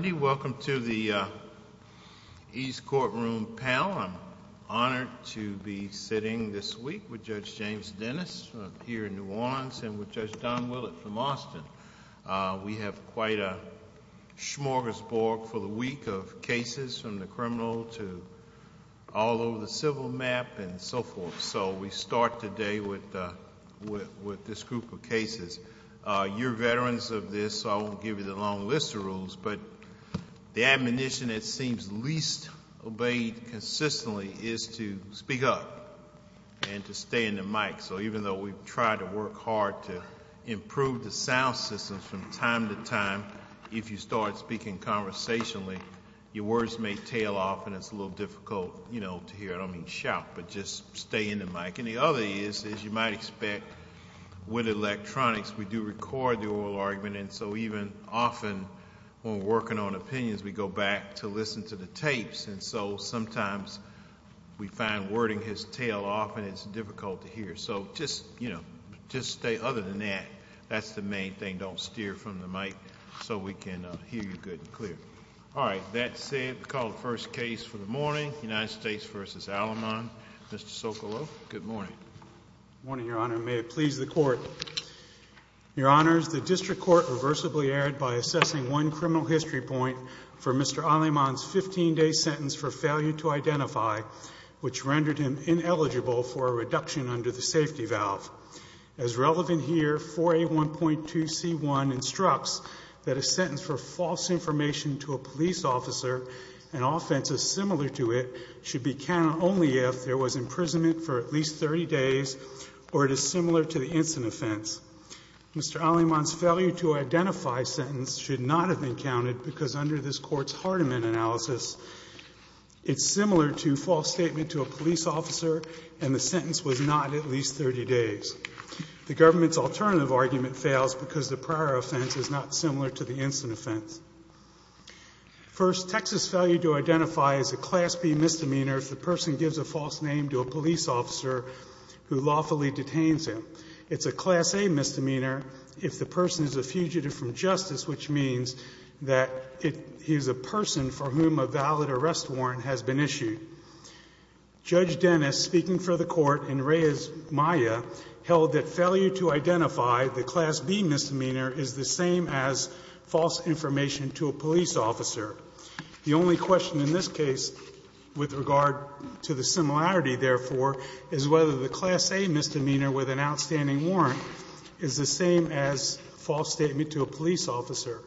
Welcome to the East Courtroom panel. I'm honored to be sitting this week with Judge James Dennis here in New Orleans and with Judge Don Willett from Austin. We have quite a smorgasbord for the week of cases from the criminal to all over the civil map and so forth. So we start today with this group of cases. You're veterans of this, so I won't give you the long list of rules, but the admonition that seems least obeyed consistently is to speak up and to stay in the mic. So even though we've tried to work hard to improve the sound systems from time to time, if you start speaking conversationally, your words may tail off and it's a little difficult to hear. I don't mean shout, but just stay in the mic. The other is you might expect with electronics, we do record the oral argument, and so even often when we're working on opinions, we go back to listen to the tapes, and so sometimes we find wording has tail off and it's difficult to hear. So just stay. Other than that, that's the main thing. Don't steer from the mic so we can hear you good and clear. All right. That's it. We call the first case for the morning, United States v. Aleman, Mr. Socolow. Good morning. Good morning, Your Honor. May it please the Court. Your Honors, the district court reversibly erred by assessing one criminal history point for Mr. Aleman's 15-day sentence for failure to identify, which rendered him ineligible for a reduction under the safety valve. As relevant here, 4A1.2C1 instructs that a sentence for false information to a police officer, an offense as similar to it, should be counted only if there was imprisonment for at least 30 days or it is similar to the instant offense. Mr. Aleman's failure to identify sentence should not have been counted because under this Court's Hardiman analysis, it's similar to false statement to a police officer and the sentence was not at least 30 days. The government's alternative argument fails because the prior offense is not similar to the instant offense. First, Texas failure to identify is a Class B misdemeanor if the person gives a false name to a police officer who lawfully detains him. It's a Class A misdemeanor if the person is a fugitive from justice, which means that it he is a person for whom a valid arrest warrant has been issued. Judge Dennis, speaking for the Court in Reyes, Maya, held that failure to identify, the Class B misdemeanor is the same as false information to a police officer. The only question in this case with regard to the similarity, therefore, is whether the Class A misdemeanor with an outstanding warrant is the same as false statement to a police officer.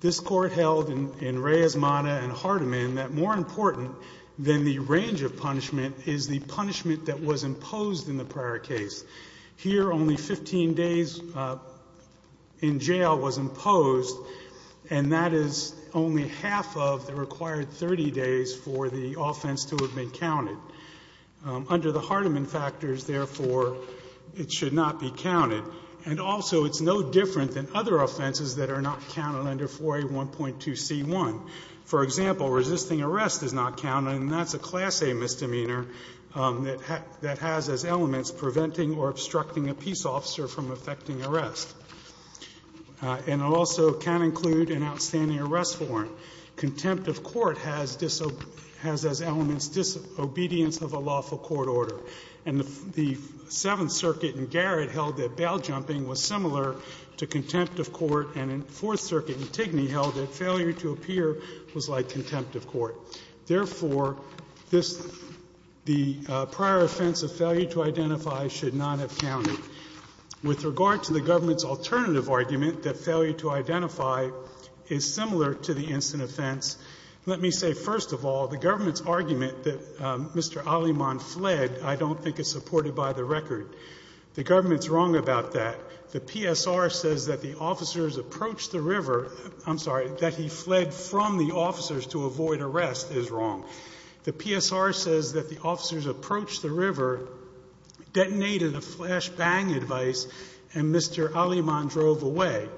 This Court held in Reyes, Maya, and Hardiman that more important than the range of punishment is the punishment that was imposed in the prior case. Here, only 15 days in jail was imposed, and that is only half of the required 30 days for the offense to have been counted. Under the Hardiman factors, therefore, it should not be counted. And also, it's no different than other offenses that are not counted under 4A1.2C1. For example, resisting arrest is not counted, and that's a Class A misdemeanor that has as elements preventing or obstructing a peace officer from effecting arrest. And also can include an outstanding arrest warrant. Contempt of court has as elements disobedience of a lawful court order. And the Seventh Circuit in Garrett held that bail jumping was similar to contempt of court, and in Fourth Circuit in Tigny held that failure to appear was like contempt of court. Therefore, this, the prior offense of failure to identify should not have counted. With regard to the government's alternative argument that failure to identify is similar to the instant offense, let me say first of all, the government's argument that Mr. Aliman fled, I don't think it's supported by the record. The government's wrong about that. The PSR says that the officers approached the river, I'm sorry, that he fled from the officers to avoid arrest is wrong. The PSR says that the officers approached the river, detonated a flash bang device, and Mr. Aliman drove away.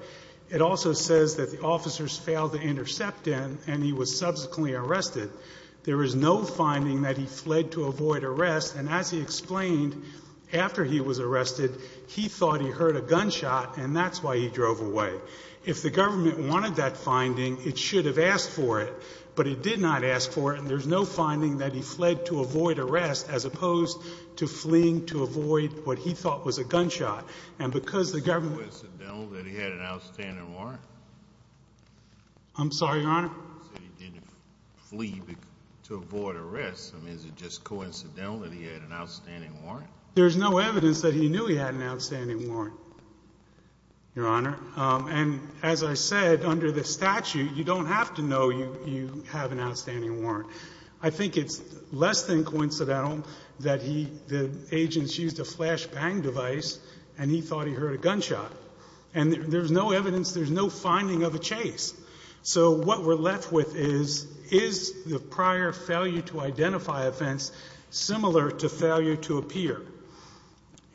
It also says that the officers failed to intercept him, and he was subsequently arrested. There is no finding that he fled to avoid arrest, and as he explained, after he was arrested, he thought he heard a gunshot, and that's why he drove away. If the government wanted that finding, it should have asked for it, but it did not ask for it, and there's no finding that he fled to avoid arrest as opposed to fleeing to avoid what he thought was a gunshot. And because the government- Is it coincidental that he had an outstanding warrant? I'm sorry, Your Honor? He said he didn't flee to avoid arrest. I mean, is it just coincidental that he had an outstanding warrant? There's no evidence that he knew he had an outstanding warrant, Your Honor. And as I said, under the statute, you don't have to know you have an outstanding warrant. I think it's less than coincidental that the agent used a flash bang device and he thought he heard a gunshot, and there's no evidence, there's no finding of a chase. So what we're left with is, is the prior failure to identify offense similar to failure to appear?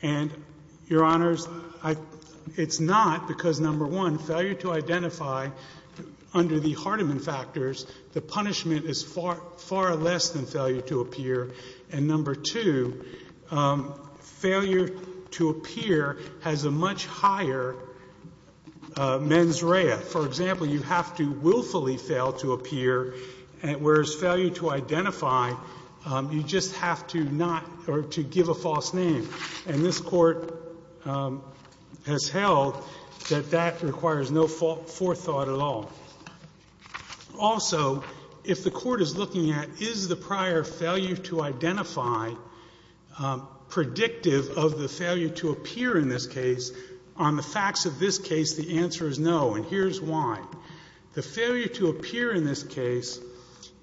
And, Your Honors, it's not because, number one, failure to identify under the Hardiman factors, the punishment is far less than failure to appear. And number two, failure to appear has a much higher mens rea. For example, you have to willfully fail to appear, whereas failure to identify, you just have to not, or to give a false name. And this court has held that that requires no forethought at all. Also, if the court is looking at, is the prior failure to identify predictive of the failure to appear in this case? On the facts of this case, the answer is no, and here's why. The failure to appear in this case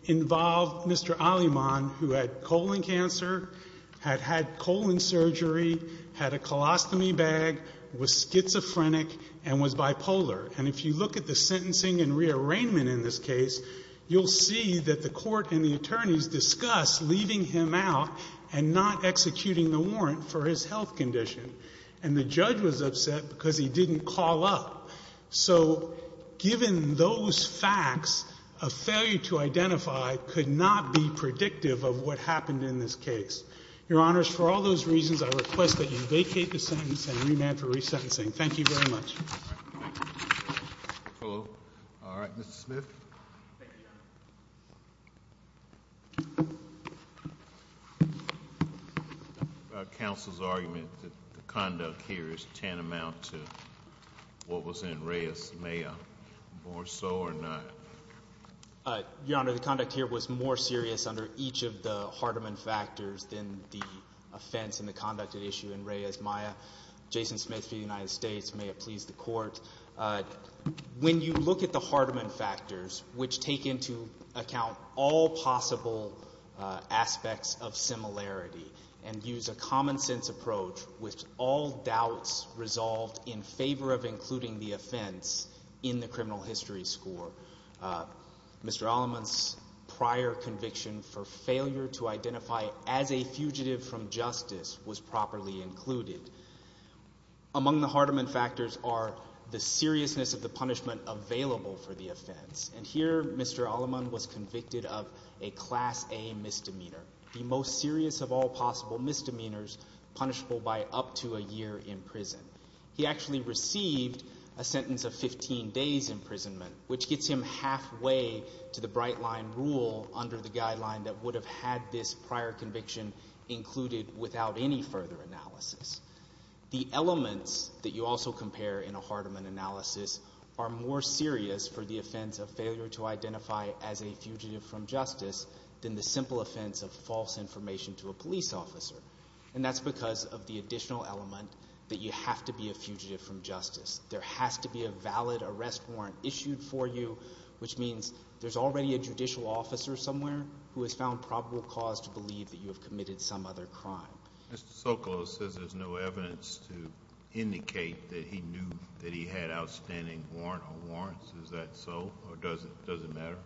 involved Mr. Aliman, who had colon cancer, had had colon surgery, had a colostomy bag, was schizophrenic, and was bipolar. And if you look at the sentencing and rearrangement in this case, you'll see that the court and the attorneys discuss leaving him out and not executing the warrant for his health condition. And the judge was upset because he didn't call up. So, given those facts, a failure to identify could not be predictive of what happened in this case. Your Honors, for all those reasons, I request that you vacate the sentence and remand for resentencing. Thank you very much. Thank you. Hello. Thank you, Your Honor. Counsel's argument that the conduct here is tantamount to what was in Reyes-Meyer, more so or not? Your Honor, the conduct here was more serious under each of the Hardeman factors than the offense and the conduct at issue in Reyes-Meyer. Jason Smith, for the United States, may it please the court, when you look at the Hardeman factors, which take into account all possible aspects of similarity and use a common sense approach with all doubts resolved in favor of including the offense in the criminal history score. Mr. Alleman's prior conviction for failure to identify as a fugitive from justice was properly included. Among the Hardeman factors are the seriousness of the punishment available for the offense. And here, Mr. Alleman was convicted of a Class A misdemeanor. The most serious of all possible misdemeanors, punishable by up to a year in prison. He actually received a sentence of 15 days imprisonment, which gets him halfway to the Bright Line Rule under the guideline that would have had this prior conviction included without any further analysis. The elements that you also compare in a Hardeman analysis are more serious for the offense of failure to identify as a fugitive from justice than the simple offense of false information to a police officer. And that's because of the additional element that you have to be a fugitive from justice. There has to be a valid arrest warrant issued for you, which means there's already a judicial officer somewhere who has found probable cause to believe that you have committed some other crime. Mr. Socolow says there's no evidence to indicate that he knew that he had an outstanding warrant or warrants. Is that so, or does it matter?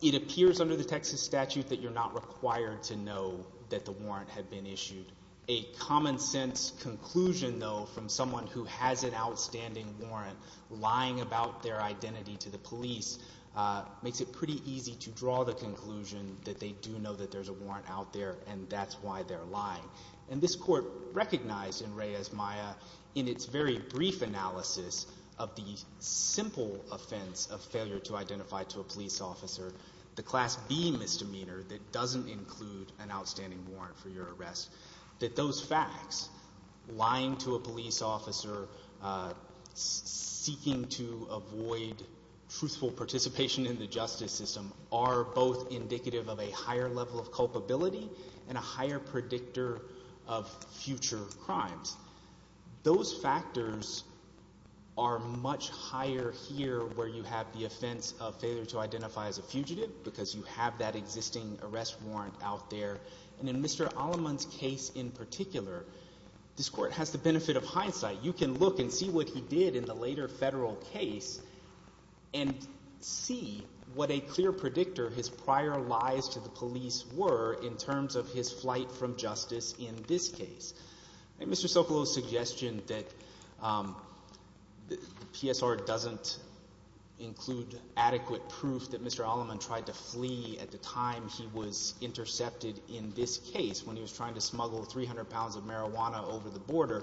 It appears under the Texas statute that you're not required to know that the warrant had been issued. A common sense conclusion, though, from someone who has an outstanding warrant lying about their identity to the police makes it pretty easy to draw the conclusion that they do know that there's a warrant out there and that's why they're lying. And this Court recognized in Reyes-Maya, in its very brief analysis of the simple offense of failure to identify to a police officer, the Class B misdemeanor that doesn't include an outstanding warrant for your arrest, that those facts, lying to a police officer, seeking to avoid truthful participation in the justice system, are both indicative of a higher level of culpability and a higher predictor of future crimes. Those factors are much higher here where you have the offense of failure to identify as a fugitive because you have that existing arrest warrant out there. And in Mr. Alleman's case in particular, this Court has the benefit of hindsight. You can look and see what he did in the later federal case and see what a clear predictor his prior lies to the police were in terms of his flight from justice in this case. Mr. Socolow's suggestion that the PSR doesn't include adequate proof that Mr. Alleman tried to flee at the time he was intercepted in this case when he was trying to smuggle 300 pounds of marijuana over the border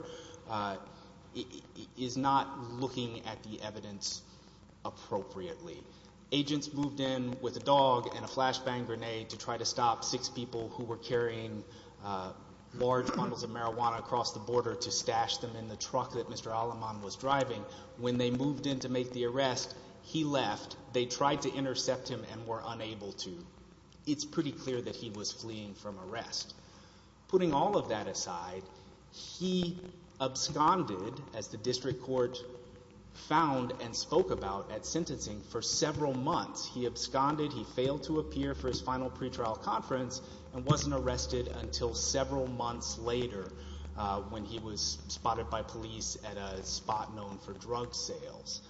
is not looking at the evidence appropriately. Agents moved in with a dog and a flashbang grenade to try to stop six people who were carrying large bundles of marijuana across the border to stash them in the truck that Mr. Alleman was driving. When they moved in to make the arrest, he left. They tried to intercept him and were unable to. It's pretty clear that he was fleeing from arrest. Putting all of that aside, he absconded, as the District Court found and spoke about at sentencing, for several months. He absconded, he failed to appear for his final pretrial conference, and wasn't arrested until several months later when he was spotted by police at a spot known for drug sales.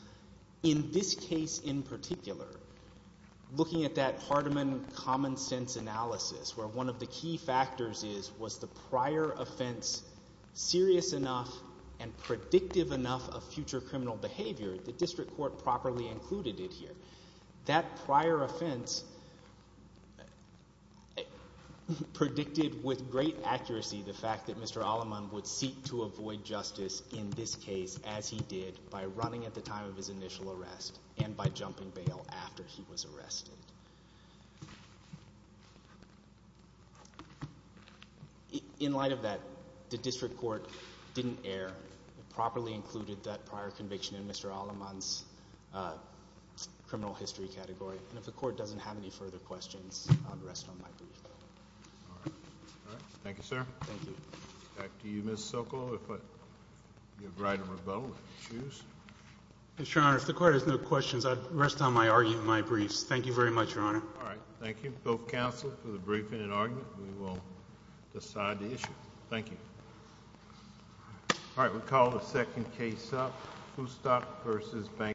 In this case in particular, looking at that Hardeman common sense analysis, where one of the key factors is, was the prior offense serious enough and predictive enough of future criminal behavior, the District Court properly included it here. That prior offense predicted with great accuracy the fact that Mr. Alleman would seek to avoid justice in this case, as he did, by running at the time of his initial arrest and by jumping bail after he was arrested. In light of that, the District Court didn't err. It properly included that prior conviction in Mr. Alleman's criminal history category. And if the Court doesn't have any further questions, I'll rest on my brief. All right. Thank you, sir. Thank you. Back to you, Ms. Socolow, if you have right of rebuttal to choose. Mr. Your Honor, if the Court has no questions, I'd rest on my argument and my briefs. Thank you very much, Your Honor. All right. Thank you, both counsel, for the briefing and argument. We will decide the issue. Thank you. All right. We'll call the second case up. Foustock v. Banker.